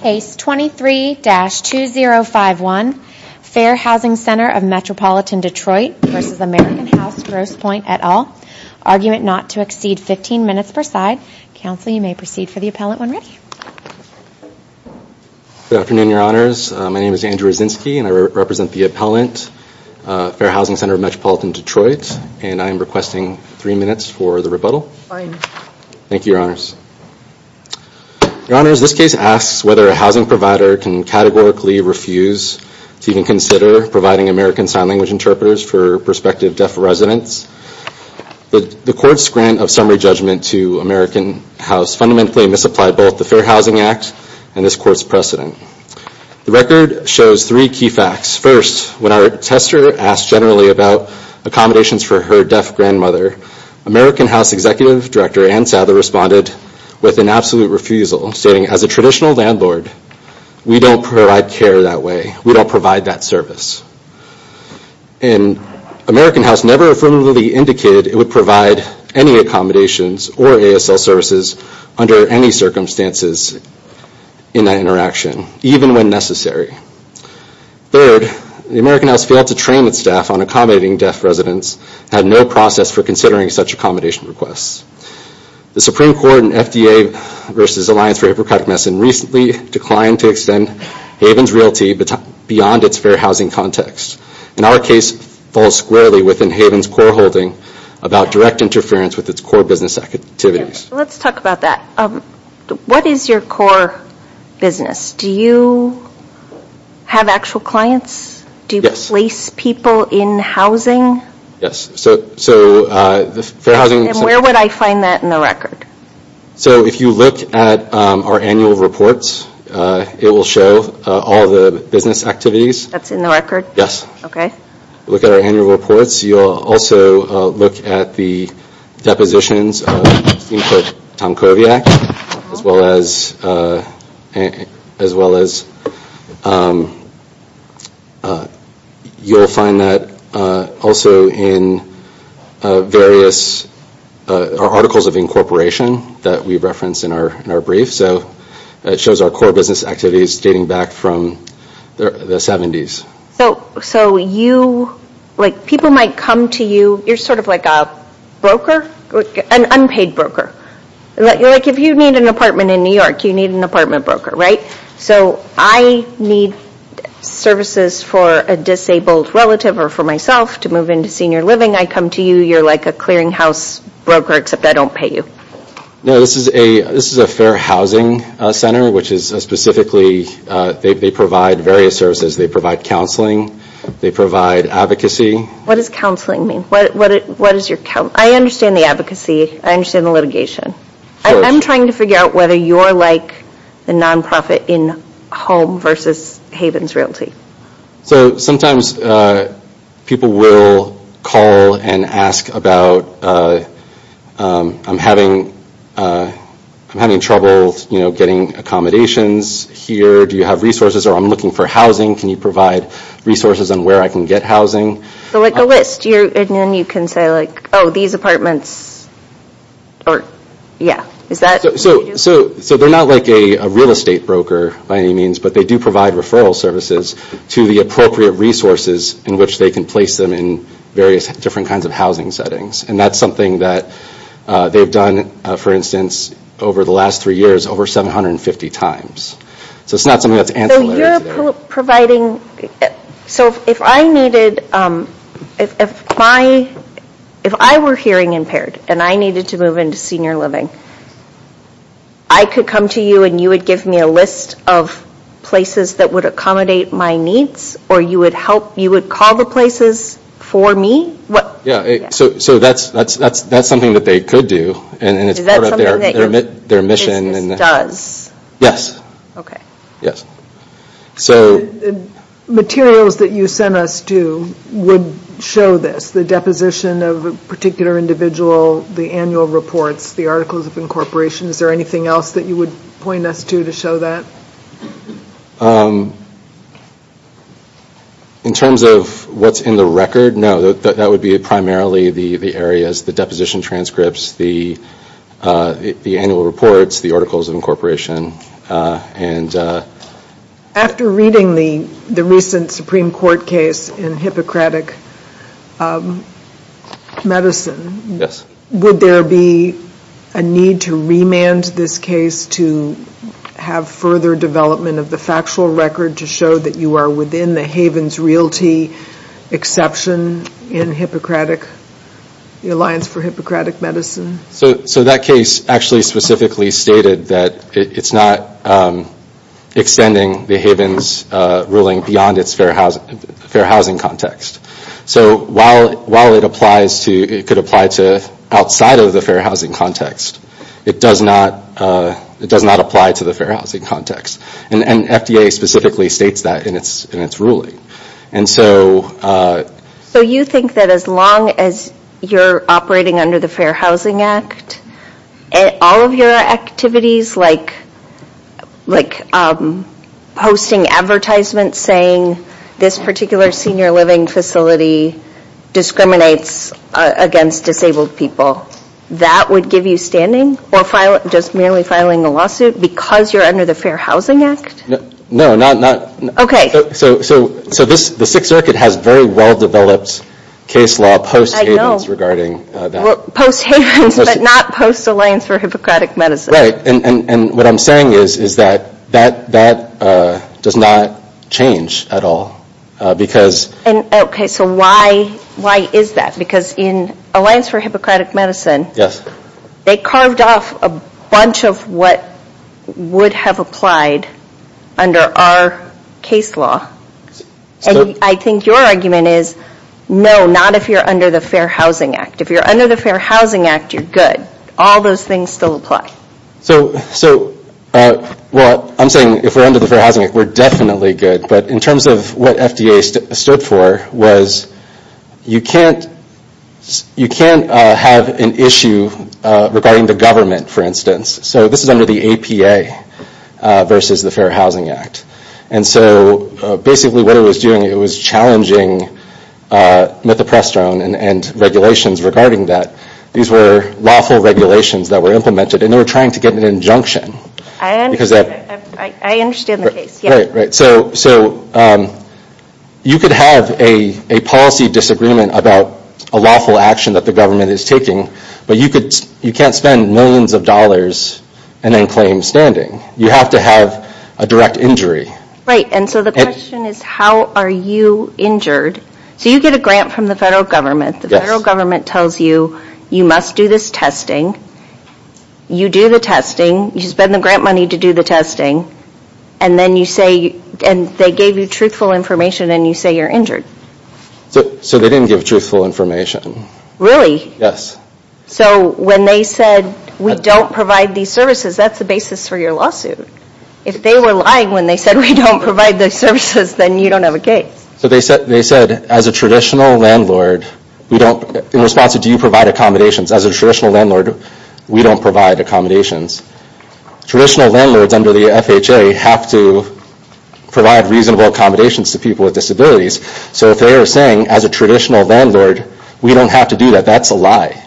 Case 23-2051, Fair Housing Ctr of Metropolitan Detroit v. American House Grosse Pointe et al. Argument not to exceed 15 minutes per side. Counsel, you may proceed for the appellant when ready. Good afternoon, Your Honors. My name is Andrew Raczynski and I represent the appellant, Fair Housing Ctr of Metropolitan Detroit. And I am requesting three minutes for the rebuttal. Fine. Thank you, Your Honors. Your Honors, this case asks whether a housing provider can categorically refuse to even consider providing American Sign Language interpreters for prospective deaf residents. The court's grant of summary judgment to American House fundamentally misapplied both the Fair Housing Act and this court's precedent. The record shows three key facts. First, when our tester asked generally about accommodations for her deaf grandmother, American House Executive Director Anne Sadler responded with an absolute refusal, stating, As a traditional landlord, we don't provide care that way. We don't provide that service. And American House never affirmatively indicated it would provide any accommodations or ASL services under any circumstances in that interaction, even when necessary. Third, American House failed to train its staff on accommodating deaf residents and had no process for considering such accommodation requests. The Supreme Court in FDA v. Alliance for Hippocratic Messing recently declined to extend Haven's realty beyond its fair housing context. And our case falls squarely within Haven's core holding about direct interference with its core business activities. Let's talk about that. What is your core business? Do you have actual clients? Do you place people in housing? Yes. And where would I find that in the record? So if you look at our annual reports, it will show all the business activities. That's in the record? Yes. Okay. If you look at our annual reports, you'll also look at the depositions of Tom Koviak, as well as you'll find that also in various articles of incorporation that we referenced in our brief. So it shows our core business activities dating back from the 70s. So you, like people might come to you, you're sort of like a broker, an unpaid broker. Like if you need an apartment in New York, you need an apartment broker, right? So I need services for a disabled relative or for myself to move into senior living. I come to you, you're like a clearinghouse broker, except I don't pay you. No, this is a fair housing center, which is specifically, they provide various services. They provide counseling. They provide advocacy. What does counseling mean? I understand the advocacy. I understand the litigation. I'm trying to figure out whether you're like a nonprofit in home versus Havens Realty. So sometimes people will call and ask about, I'm having trouble getting accommodations here. Do you have resources or I'm looking for housing? Can you provide resources on where I can get housing? So like a list, and then you can say like, oh, these apartments, or yeah. So they're not like a real estate broker by any means, but they do provide referral services to the appropriate resources in which they can place them in various different kinds of housing settings. And that's something that they've done, for instance, over the last three years, over 750 times. So it's not something that's ancillary. You're providing, so if I needed, if I were hearing impaired and I needed to move into senior living, I could come to you and you would give me a list of places that would accommodate my needs, or you would help, you would call the places for me? So that's something that they could do. Is that something that your business does? Yes. Okay. Yes. So materials that you sent us to would show this, the deposition of a particular individual, the annual reports, the articles of incorporation. Is there anything else that you would point us to to show that? In terms of what's in the record, no. That would be primarily the areas, the deposition transcripts, the annual reports, the articles of incorporation. After reading the recent Supreme Court case in Hippocratic Medicine, would there be a need to remand this case to have further development of the factual record to show that you are within the Havens Realty exception in the Alliance for Hippocratic Medicine? So that case actually specifically stated that it's not extending the Havens ruling beyond its fair housing context. So while it could apply to outside of the fair housing context, it does not apply to the fair housing context. And FDA specifically states that in its ruling. So you think that as long as you're operating under the Fair Housing Act, all of your activities like posting advertisements saying this particular senior living facility discriminates against disabled people, that would give you standing or just merely filing a lawsuit because you're under the Fair Housing Act? No. Okay. So the Sixth Circuit has very well-developed case law post-Havens regarding that. Post-Havens, but not post-Alliance for Hippocratic Medicine. Right. And what I'm saying is that that does not change at all. Okay. So why is that? Because in Alliance for Hippocratic Medicine, they carved off a bunch of what would have applied under our case law. And I think your argument is no, not if you're under the Fair Housing Act. If you're under the Fair Housing Act, you're good. All those things still apply. So, well, I'm saying if we're under the Fair Housing Act, we're definitely good. But in terms of what FDA stood for was you can't have an issue regarding the government, for instance. So this is under the APA versus the Fair Housing Act. And so basically what it was doing, it was challenging Mithoprestone and regulations regarding that. These were lawful regulations that were implemented, and they were trying to get an injunction. I understand the case. Right, right. So you could have a policy disagreement about a lawful action that the government is taking, but you can't spend millions of dollars and then claim standing. You have to have a direct injury. Right. And so the question is how are you injured? So you get a grant from the federal government. The federal government tells you you must do this testing. You do the testing. You spend the grant money to do the testing. And they gave you truthful information, and you say you're injured. So they didn't give truthful information. Really? Yes. So when they said we don't provide these services, that's the basis for your lawsuit. If they were lying when they said we don't provide the services, then you don't have a case. So they said as a traditional landlord, in response to do you provide accommodations, as a traditional landlord, we don't provide accommodations. Traditional landlords under the FHA have to provide reasonable accommodations to people with disabilities. So if they are saying as a traditional landlord, we don't have to do that, that's a lie.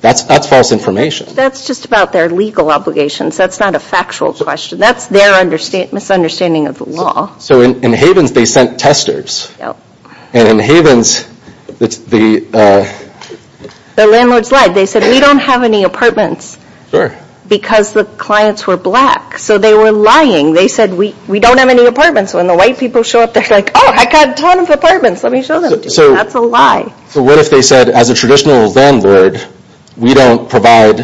That's false information. That's just about their legal obligations. That's not a factual question. That's their misunderstanding of the law. So in Havens, they sent testers. Yep. And in Havens, the... The landlords lied. They said we don't have any apartments. Sure. Because the clients were black. So they were lying. They said we don't have any apartments. When the white people show up, they're like, oh, I've got a ton of apartments. Let me show them to you. That's a lie. So what if they said as a traditional landlord, we don't provide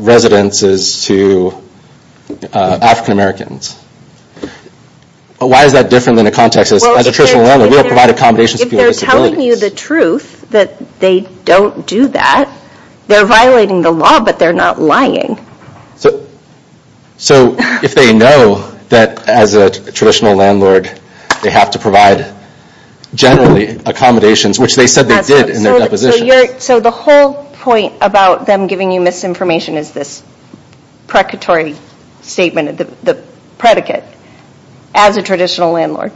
residences to African Americans? Why is that different than a context as a traditional landlord? We don't provide accommodations for people with disabilities. They're telling you the truth that they don't do that. They're violating the law, but they're not lying. So if they know that as a traditional landlord, they have to provide generally accommodations, which they said they did in their deposition. So the whole point about them giving you misinformation is this precatory statement, the predicate. As a traditional landlord,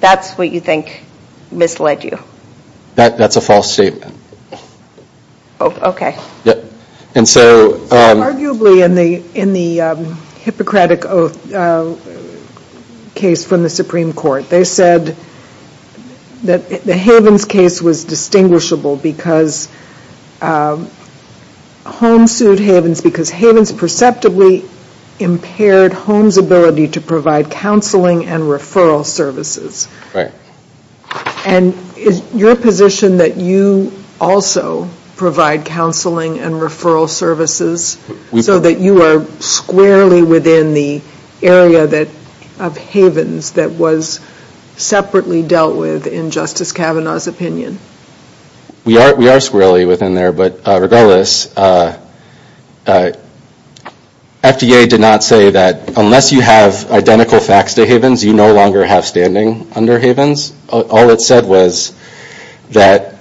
that's what you think misled you. That's a false statement. And so... Arguably, in the Hippocratic Oath case from the Supreme Court, they said that the Havens case was distinguishable because Holmes sued Havens because Havens perceptively impaired Holmes' ability to provide counseling and referral services. Right. And is your position that you also provide counseling and referral services so that you are squarely within the area of Havens that was separately dealt with in Justice Kavanaugh's opinion? We are squarely within there. But regardless, FDA did not say that unless you have identical facts to Havens, you no longer have standing under Havens. All it said was that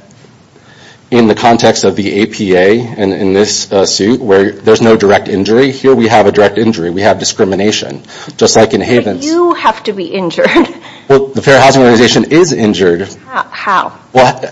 in the context of the APA and in this suit where there's no direct injury, here we have a direct injury. We have discrimination. Just like in Havens. But you have to be injured. Well, the Fair Housing Organization is injured. How?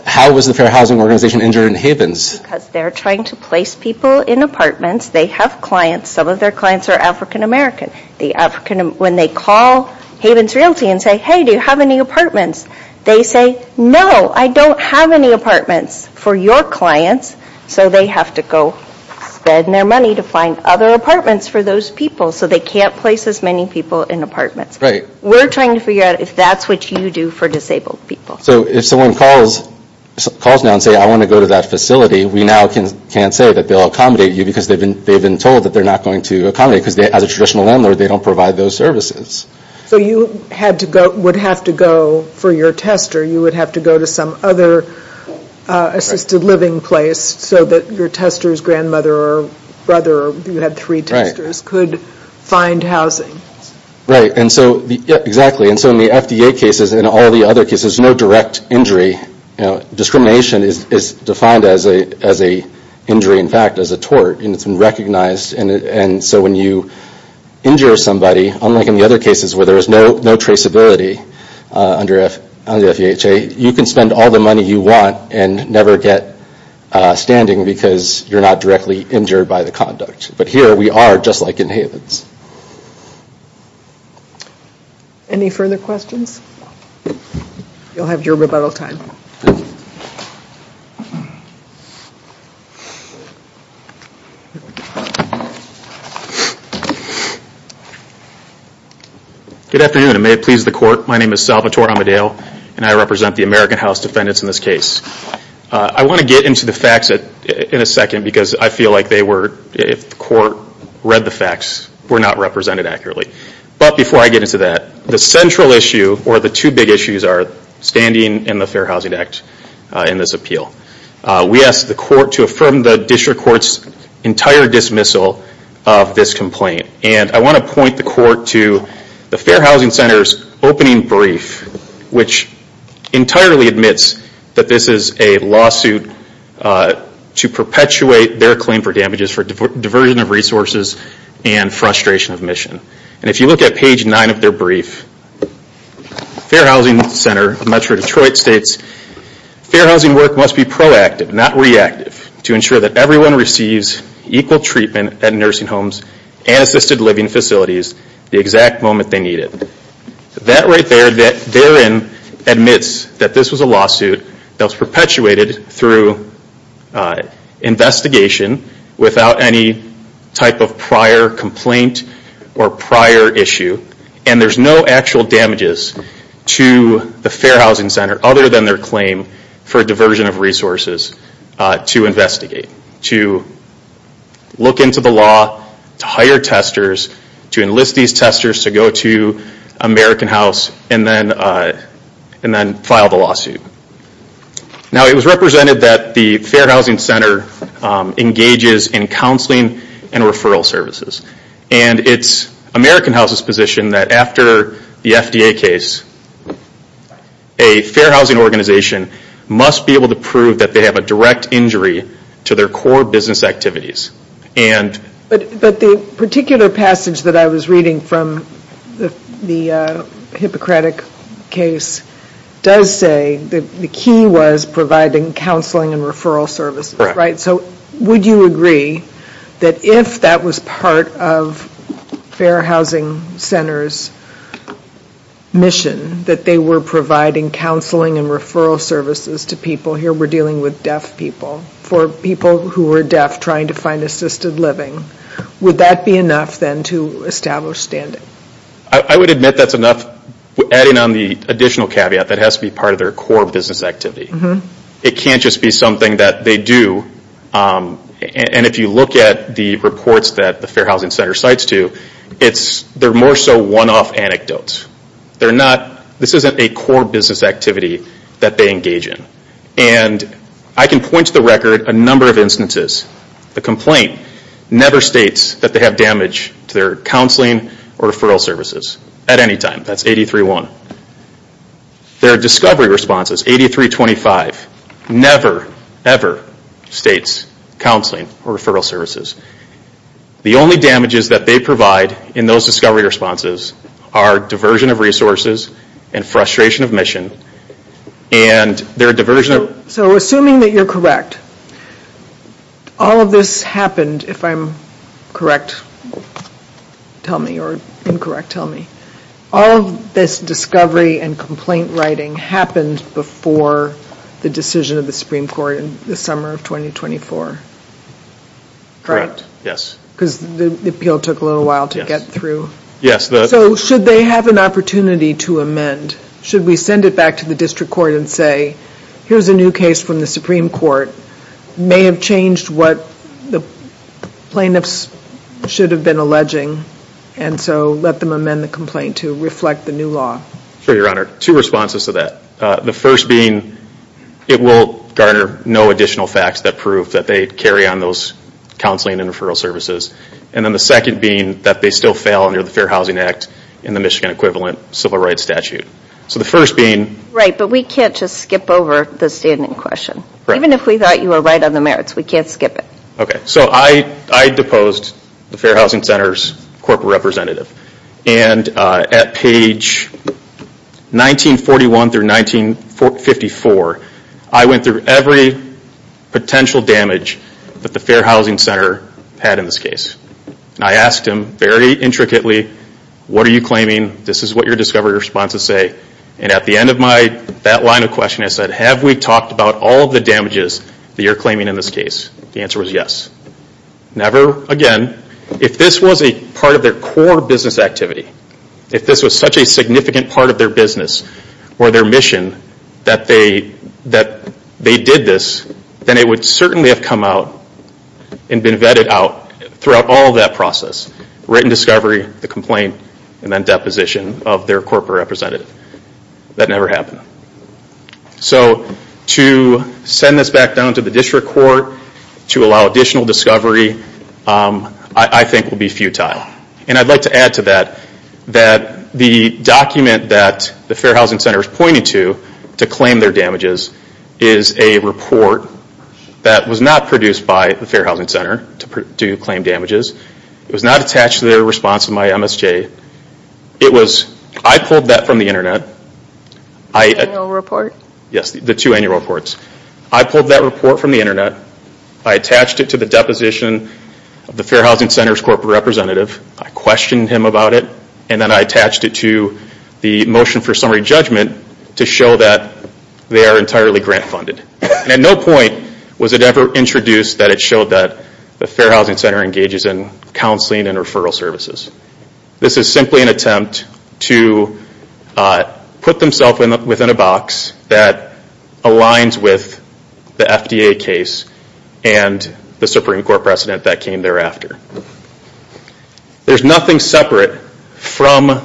How was the Fair Housing Organization injured in Havens? Because they're trying to place people in apartments. They have clients. Some of their clients are African American. When they call Havens Realty and say, hey, do you have any apartments? They say, no, I don't have any apartments for your clients. So they have to go spend their money to find other apartments for those people. So they can't place as many people in apartments. Right. So we're trying to figure out if that's what you do for disabled people. So if someone calls now and says, I want to go to that facility, we now can't say that they'll accommodate you because they've been told that they're not going to accommodate. Because as a traditional landlord, they don't provide those services. So you would have to go for your tester. You would have to go to some other assisted living place so that your tester's grandmother or brother, you had three testers, could find housing. Right. Exactly. So in the FDA cases and all the other cases, no direct injury. Discrimination is defined as an injury, in fact, as a tort. It's been recognized. So when you injure somebody, unlike in the other cases where there is no traceability under FEHA, you can spend all the money you want and never get standing because you're not directly injured by the conduct. But here we are just like in Havens. Any further questions? You'll have your rebuttal time. Good afternoon and may it please the court. My name is Salvatore Amadeo and I represent the American House Defendants in this case. I want to get into the facts in a second because I feel like they were, if the court read the facts, were not represented accurately. But before I get into that, the central issue or the two big issues are standing in the Fair Housing Act in this appeal. We asked the court to affirm the district court's entire dismissal of this complaint. And I want to point the court to the Fair Housing Center's opening brief, which entirely admits that this is a lawsuit to perpetuate their claim for damages for diversion of resources and frustration of mission. And if you look at page 9 of their brief, Fair Housing Center, Metro Detroit states, Fair Housing work must be proactive, not reactive, to ensure that everyone receives equal treatment at nursing homes and assisted living facilities the exact moment they need it. That right there, that therein admits that this was a lawsuit that was perpetuated through investigation without any type of prior complaint or prior issue. And there's no actual damages to the Fair Housing Center other than their claim for diversion of resources to investigate. To look into the law, to hire testers, to enlist these testers to go to American House and then file the lawsuit. Now it was represented that the Fair Housing Center engages in counseling and referral services. And it's American House's position that after the FDA case, a Fair Housing organization must be able to prove that they have a direct injury to their core business activities. But the particular passage that I was reading from the Hippocratic case does say that the key was providing counseling and referral services. So would you agree that if that was part of Fair Housing Center's mission, that they were providing counseling and referral services to people, here we're dealing with deaf people, for people who were deaf trying to find assisted living. Would that be enough then to establish standing? I would admit that's enough. Adding on the additional caveat, that has to be part of their core business activity. It can't just be something that they do. And if you look at the reports that the Fair Housing Center cites to, they're more so one-off anecdotes. This isn't a core business activity that they engage in. And I can point to the record a number of instances. The complaint never states that they have damage to their counseling or referral services at any time. That's 83-1. Their discovery responses, 83-25, never ever states counseling or referral services. The only damages that they provide in those discovery responses are diversion of resources and frustration of mission. So assuming that you're correct, all of this happened, if I'm correct, tell me, or incorrect, tell me. All of this discovery and complaint writing happened before the decision of the Supreme Court in the summer of 2024. Correct. Yes. Because the appeal took a little while to get through. So should they have an opportunity to amend? Should we send it back to the district court and say, here's a new case from the Supreme Court, may have changed what the plaintiffs should have been alleging, and so let them amend the complaint to reflect the new law? Sure, Your Honor. Two responses to that. The first being it will garner no additional facts that prove that they carry on those counseling and referral services. And then the second being that they still fail under the Fair Housing Act and the Michigan equivalent civil rights statute. So the first being... Right, but we can't just skip over the standing question. Even if we thought you were right on the merits, we can't skip it. Okay, so I deposed the Fair Housing Center's corporate representative. And at page 1941 through 1954, I went through every potential damage that the Fair Housing Center had in this case. And I asked him very intricately, what are you claiming? This is what your discovery responses say. And at the end of that line of questioning, I said, have we talked about all of the damages that you're claiming in this case? The answer was yes. Never again. If this was a part of their core business activity, if this was such a significant part of their business or their mission that they did this, then it would certainly have come out and been vetted out throughout all of that process. Written discovery, the complaint, and then deposition of their corporate representative. That never happened. So to send this back down to the district court to allow additional discovery I think would be futile. And I'd like to add to that that the document that the Fair Housing Center is pointing to to claim their damages is a report that was not produced by the Fair Housing Center to claim damages. It was not attached to their response to my MSJ. I pulled that from the Internet. Annual report? Yes, the two annual reports. I pulled that report from the Internet. I attached it to the deposition of the Fair Housing Center's corporate representative. I questioned him about it. And then I attached it to the motion for summary judgment to show that they are entirely grant funded. At no point was it ever introduced that it showed that the Fair Housing Center engages in counseling and referral services. This is simply an attempt to put themselves within a box that aligns with the FDA case and the Supreme Court precedent that came thereafter. There's nothing separate from...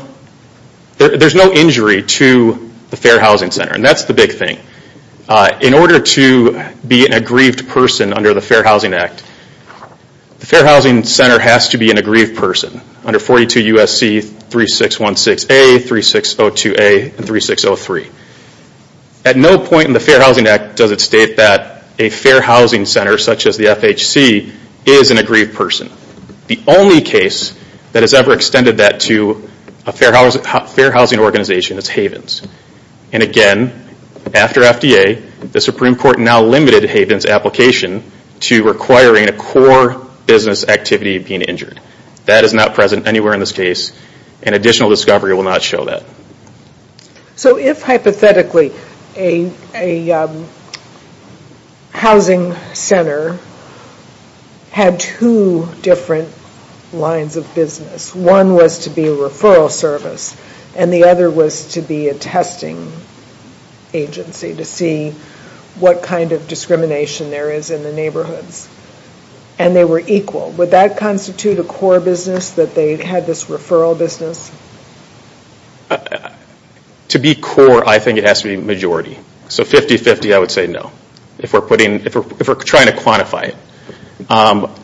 There's no injury to the Fair Housing Center and that's the big thing. In order to be an aggrieved person under the Fair Housing Act, the Fair Housing Center has to be an aggrieved person under 42 U.S.C. 3616A, 3602A, and 3603. At no point in the Fair Housing Act does it state that a Fair Housing Center such as the FHC is an aggrieved person. The only case that has ever extended that to a Fair Housing organization is Havens. And again, after FDA, the Supreme Court now limited Havens' application to requiring a core business activity of being injured. That is not present anywhere in this case and additional discovery will not show that. So if hypothetically a housing center had two different lines of business, one was to be a referral service and the other was to be a testing agency to see what kind of discrimination there is in the neighborhoods. And they were equal. Would that constitute a core business that they had this referral business? To be core, I think it has to be majority. So 50-50, I would say no if we're trying to quantify it.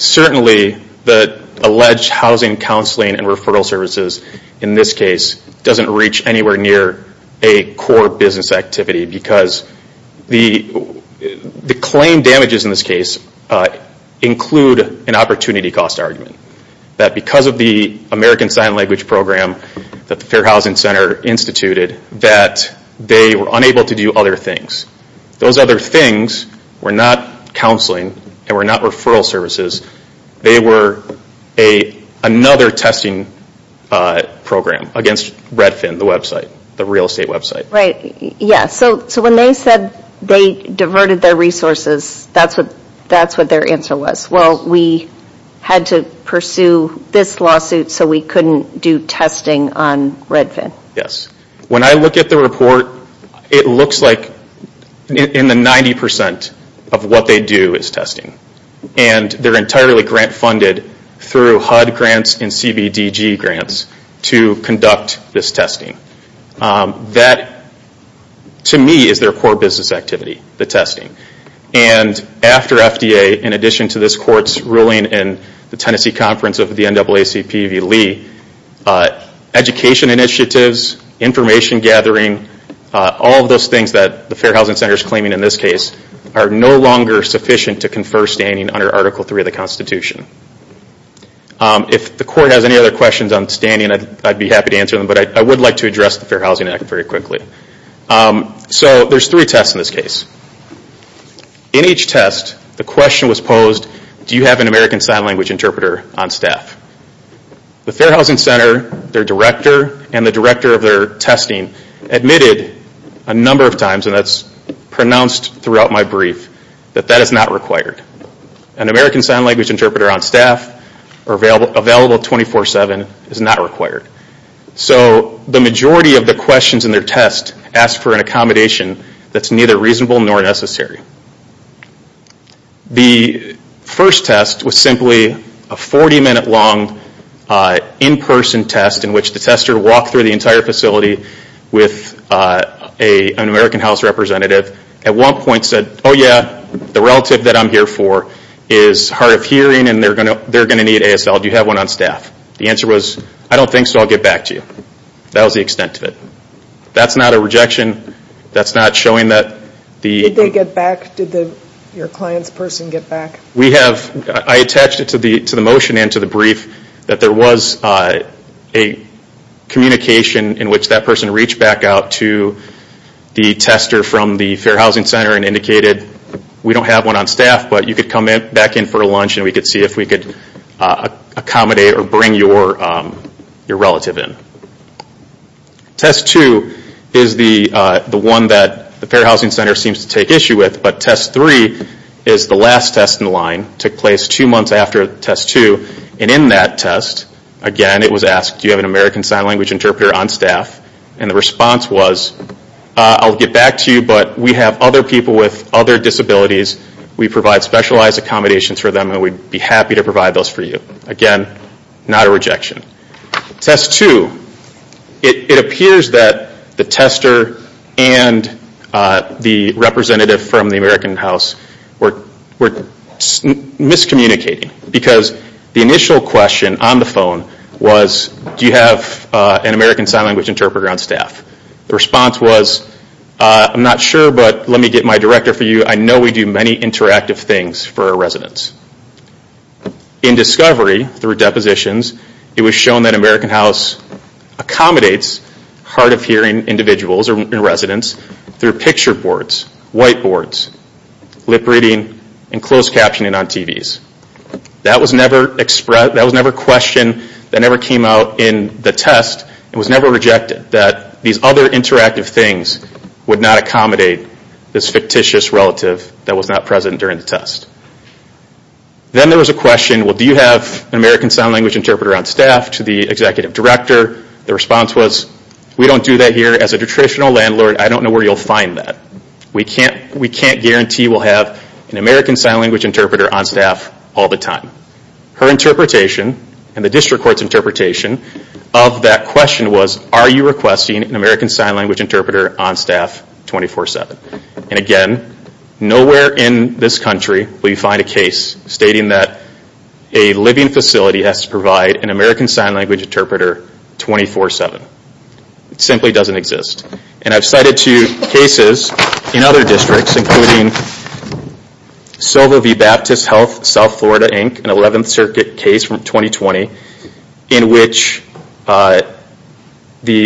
Certainly, the alleged housing counseling and referral services in this case doesn't reach anywhere near a core business activity because the claim damages in this case include an opportunity cost argument. That because of the American Sign Language program that the Fair Housing Center instituted, that they were unable to do other things. Those other things were not counseling and were not referral services. They were another testing program against Redfin, the website, the real estate website. Right, yes. So when they said they diverted their resources, that's what their answer was. Well, we had to pursue this lawsuit so we couldn't do testing on Redfin. When I look at the report, it looks like in the 90% of what they do is testing. And they're entirely grant funded through HUD grants and CBDG grants to conduct this testing. That, to me, is their core business activity, the testing. And after FDA, in addition to this court's ruling in the Tennessee Conference of the NAACP v. Lee, education initiatives, information gathering, all of those things that the Fair Housing Center is claiming in this case are no longer sufficient to confer standing under Article III of the Constitution. If the court has any other questions on standing, I'd be happy to answer them, but I would like to address the Fair Housing Act very quickly. So there's three tests in this case. In each test, the question was posed, do you have an American Sign Language interpreter on staff? The Fair Housing Center, their director, and the director of their testing admitted a number of times, and that's pronounced throughout my brief, that that is not required. An American Sign Language interpreter on staff or available 24-7 is not required. So the majority of the questions in their test ask for an accommodation that's neither reasonable nor necessary. The first test was simply a 40-minute long in-person test in which the tester walked through the entire facility with an American House representative, at one point said, oh yeah, the relative that I'm here for is hard of hearing and they're going to need ASL, do you have one on staff? The answer was, I don't think so, I'll get back to you. That was the extent of it. That's not a rejection, that's not showing that the Did they get back, did your client's person get back? We have, I attached it to the motion and to the brief, that there was a communication in which that person reached back out to the tester from the Fair Housing Center and indicated, we don't have one on staff, but you could come back in for lunch and we could see if we could accommodate or bring your relative in. Test two is the one that the Fair Housing Center seems to take issue with, but test three is the last test in the line, took place two months after test two. And in that test, again it was asked, do you have an American Sign Language interpreter on staff? And the response was, I'll get back to you, but we have other people with other disabilities, we provide specialized accommodations for them and we'd be happy to provide those for you. Again, not a rejection. Test two, it appears that the tester and the representative from the American House were miscommunicating, because the initial question on the phone was, do you have an American Sign Language interpreter on staff? The response was, I'm not sure, but let me get my director for you, I know we do many interactive things for our residents. In discovery, through depositions, it was shown that American House accommodates hard of hearing individuals or residents through picture boards, whiteboards, lip reading, and closed captioning on TVs. That was never questioned, that never came out in the test, it was never rejected, that these other interactive things would not accommodate this fictitious relative that was not present during the test. Then there was a question, do you have an American Sign Language interpreter on staff? To the executive director, the response was, we don't do that here as a traditional landlord, I don't know where you'll find that. We can't guarantee we'll have an American Sign Language interpreter on staff all the time. Her interpretation, and the district court's interpretation, of that question was, are you requesting an American Sign Language interpreter on staff 24-7? Again, nowhere in this country will you find a case stating that a living facility has to provide an American Sign Language interpreter 24-7. It simply doesn't exist. I've cited two cases in other districts, including Silva v. Baptist Health, South Florida, Inc., an 11th Circuit case from 2020, in which the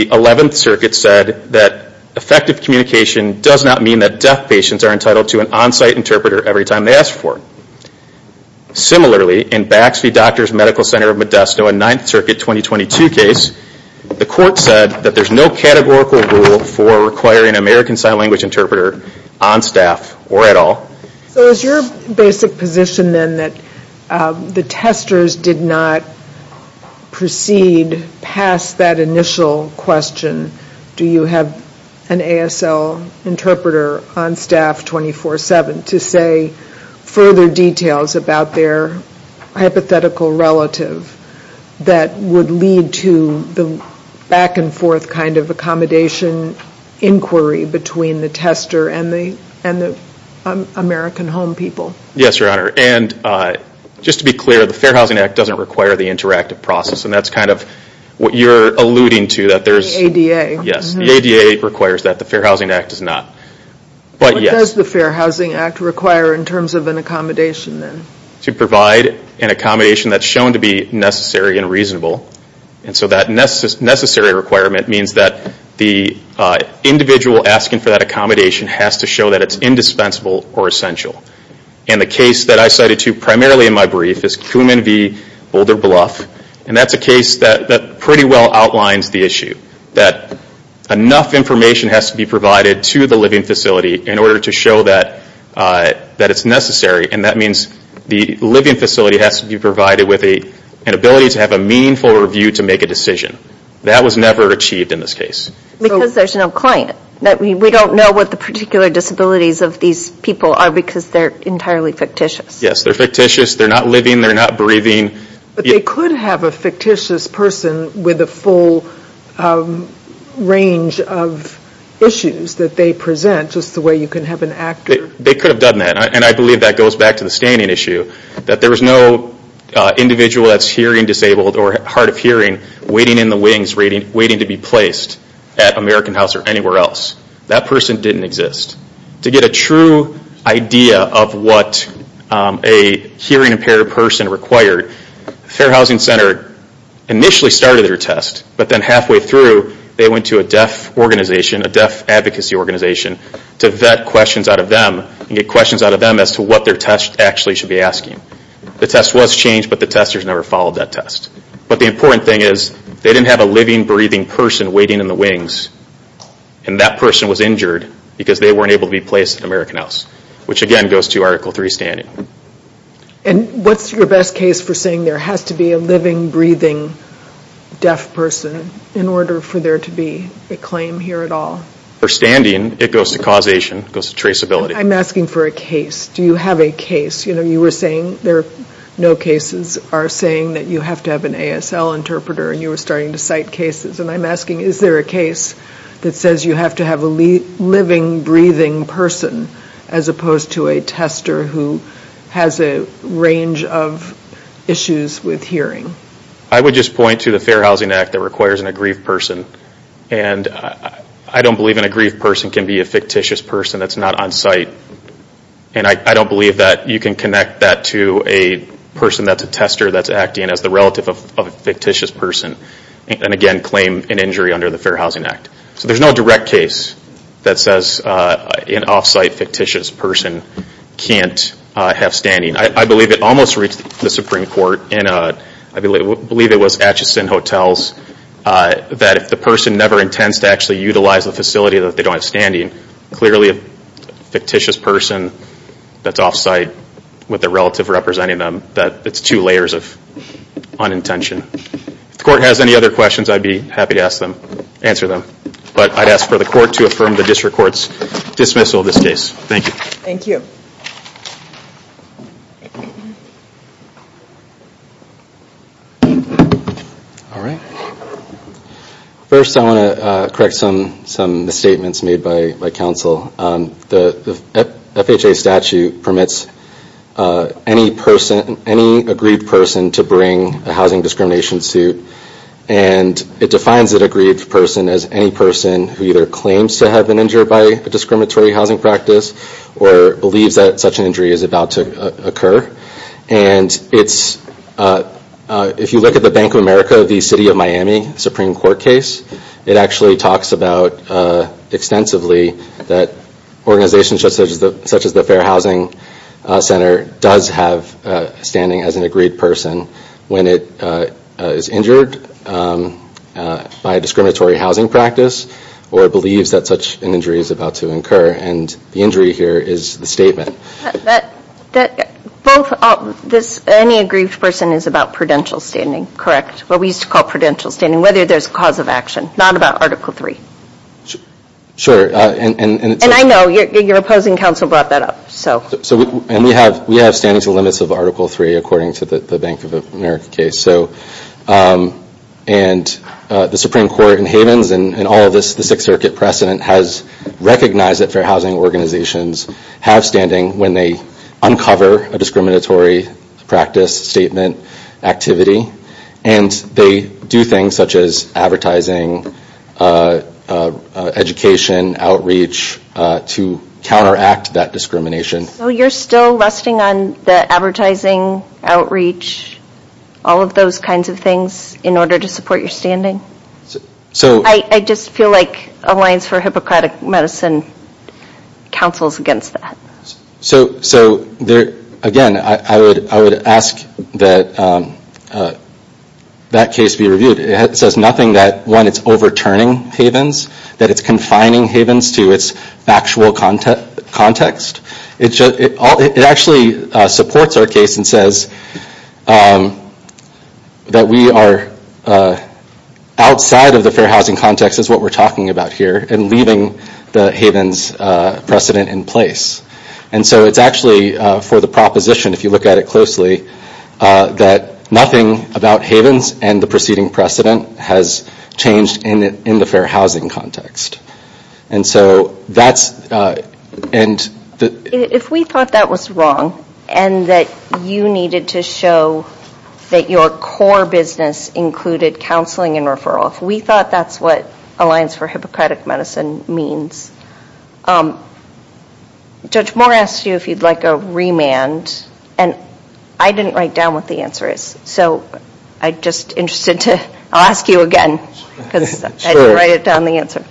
11th Circuit said that effective communication does not mean that deaf patients are entitled to an on-site interpreter every time they ask for it. Similarly, in Baxby Doctors' Medical Center of Modesto, a 9th Circuit 2022 case, the court said that there's no categorical rule for requiring an American Sign Language interpreter on staff or at all. So is your basic position then that the testers did not proceed past that initial question, do you have an ASL interpreter on staff 24-7, to say further details about their hypothetical relative that would lead to the back-and-forth kind of accommodation inquiry between the tester and the American home people? Yes, Your Honor, and just to be clear, the Fair Housing Act doesn't require the interactive process, and that's kind of what you're alluding to, the ADA. Yes, the ADA requires that, the Fair Housing Act does not. But yes. What does the Fair Housing Act require in terms of an accommodation then? To provide an accommodation that's shown to be necessary and reasonable, and so that necessary requirement means that the individual asking for that accommodation has to show that it's indispensable or essential. And the case that I cited to primarily in my brief is Kuhman v. Boulder Bluff, and that's a case that pretty well outlines the issue, that enough information has to be provided to the living facility in order to show that it's necessary, and that means the living facility has to be provided with an ability to have a meaningful review to make a decision. That was never achieved in this case. Because there's no client. We don't know what the particular disabilities of these people are because they're entirely fictitious. Yes, they're fictitious, they're not living, they're not breathing. But they could have a fictitious person with a full range of issues that they present, just the way you can have an actor. They could have done that, and I believe that goes back to the standing issue, that there was no individual that's hearing disabled or hard of hearing waiting in the wings, waiting to be placed at American House or anywhere else. That person didn't exist. To get a true idea of what a hearing impaired person required, Fair Housing Center initially started their test, but then halfway through they went to a deaf organization, a deaf advocacy organization, to vet questions out of them and get questions out of them as to what their test actually should be asking. The test was changed, but the testers never followed that test. But the important thing is they didn't have a living, breathing person waiting in the wings, and that person was injured because they weren't able to be placed at American House, which again goes to Article III standing. And what's your best case for saying there has to be a living, breathing deaf person in order for there to be a claim here at all? For standing, it goes to causation, it goes to traceability. I'm asking for a case. Do you have a case? You know, you were saying there are no cases are saying that you have to have an ASL interpreter, and you were starting to cite cases, and I'm asking is there a case that says you have to have a living, breathing person as opposed to a tester who has a range of issues with hearing? I would just point to the Fair Housing Act that requires an aggrieved person. And I don't believe an aggrieved person can be a fictitious person that's not on site. And I don't believe that you can connect that to a person that's a tester that's acting as the relative of a fictitious person, and again claim an injury under the Fair Housing Act. So there's no direct case that says an off-site fictitious person can't have standing. I believe it almost reached the Supreme Court and I believe it was Atchison Hotels that if the person never intends to actually utilize the facility that they don't have standing, clearly a fictitious person that's off-site with their relative representing them, it's two layers of unintention. If the court has any other questions, I'd be happy to answer them. But I'd ask for the court to affirm the district court's dismissal of this case. Thank you. Thank you. First I want to correct some misstatements made by counsel. The FHA statute permits any person, any aggrieved person to bring a housing discrimination suit. And it defines an aggrieved person as any person who either claims to have been injured by a discriminatory housing practice or believes that such an injury is about to occur. And if you look at the Bank of America, the City of Miami Supreme Court case, it actually talks about extensively that organizations such as the Fair Housing Center does have standing as an aggrieved person when it is injured by a discriminatory housing practice or believes that such an injury is about to occur. And the injury here is the statement. Any aggrieved person is about prudential standing, correct? What we used to call prudential standing. Whether there's cause of action. Not about Article 3. Sure. And I know your opposing counsel brought that up. And we have standing to the limits of Article 3 according to the Bank of America case. And the Supreme Court in Havens and all of the Sixth Circuit precedent has recognized that fair housing organizations have standing when they uncover a discriminatory practice, statement, activity. And they do things such as advertising, education, outreach to counteract that discrimination. So you're still resting on the advertising, outreach, all of those kinds of things in order to support your standing? I just feel like Alliance for Hippocratic Medicine counsels against that. So again, I would ask that that case be reviewed. It says nothing that, one, it's overturning Havens. That it's confining Havens to its factual context. It actually supports our case and says that we are outside of the fair housing context is what we're talking about here and leaving the Havens precedent in place. And so it's actually for the proposition, if you look at it closely, that nothing about Havens and the preceding precedent has changed in the fair housing context. And so that's... If we thought that was wrong and that you needed to show that your core business included counseling and referral, if we thought that's what Alliance for Hippocratic Medicine means... Judge Moore asked you if you'd like a remand. And I didn't write down what the answer is. So I'm just interested to ask you again because I didn't write down the answer.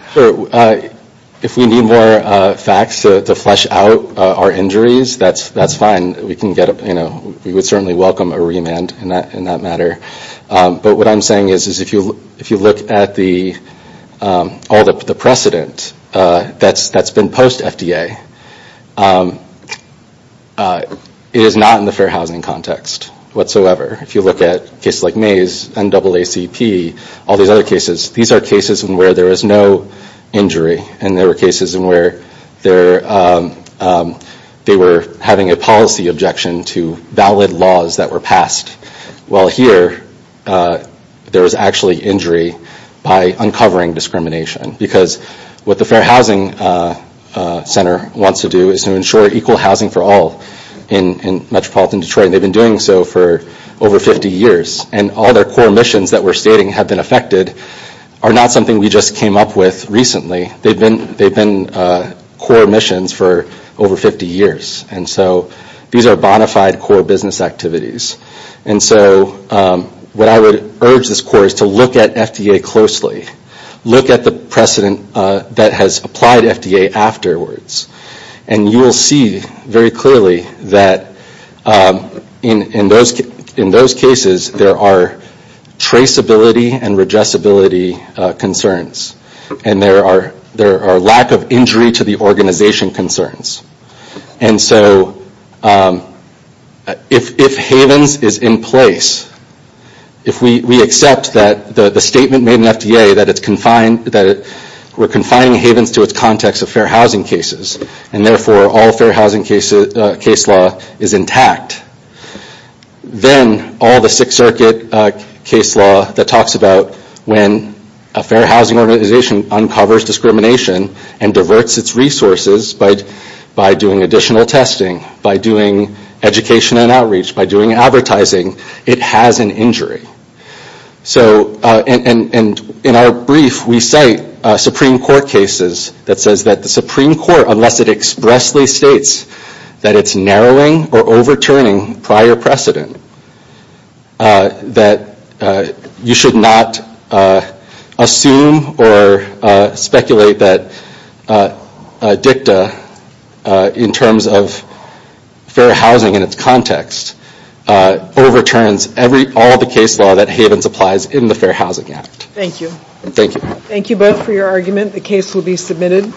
If we need more facts to flesh out our injuries, that's fine. We can get... We would certainly welcome a remand in that matter. But what I'm saying is, if you look at all the precedent that's been post-FDA, it is not in the fair housing context whatsoever. If you look at cases like Mays, NAACP, all these other cases, these are cases where there is no injury and there were cases in where they were having a policy objection to valid laws that were passed. While here, there was actually injury by uncovering discrimination because what the Fair Housing Center wants to do is to ensure equal housing for all in metropolitan Detroit. They've been doing so for over 50 years and all their core missions that we're stating have been affected are not something we just came up with recently. They've been core missions for over 50 years. And so these are bonafide core business activities. And so what I would urge this Corps is to look at FDA closely. Look at the precedent that has applied FDA afterwards. And you will see very clearly that in those cases, there are traceability and regessibility concerns. And there are lack of injury to the organization concerns. And so if HAVENS is in place, if we accept that the statement made in FDA that we're confining HAVENS to its context of fair housing cases and therefore all fair housing case law is intact, then all the Sixth Circuit case law that talks about when a fair housing organization uncovers discrimination and diverts its resources by doing additional testing, by doing education and outreach, by doing advertising, it has an injury. And in our brief, we cite Supreme Court cases that says that the Supreme Court, unless it expressly states that it's narrowing or overturning prior precedent, that you should not assume or speculate that a dicta in terms of fair housing in its context overturns all the case law that HAVENS applies in the Fair Housing Act. Thank you. Thank you. Thank you both for your argument. The case will be submitted.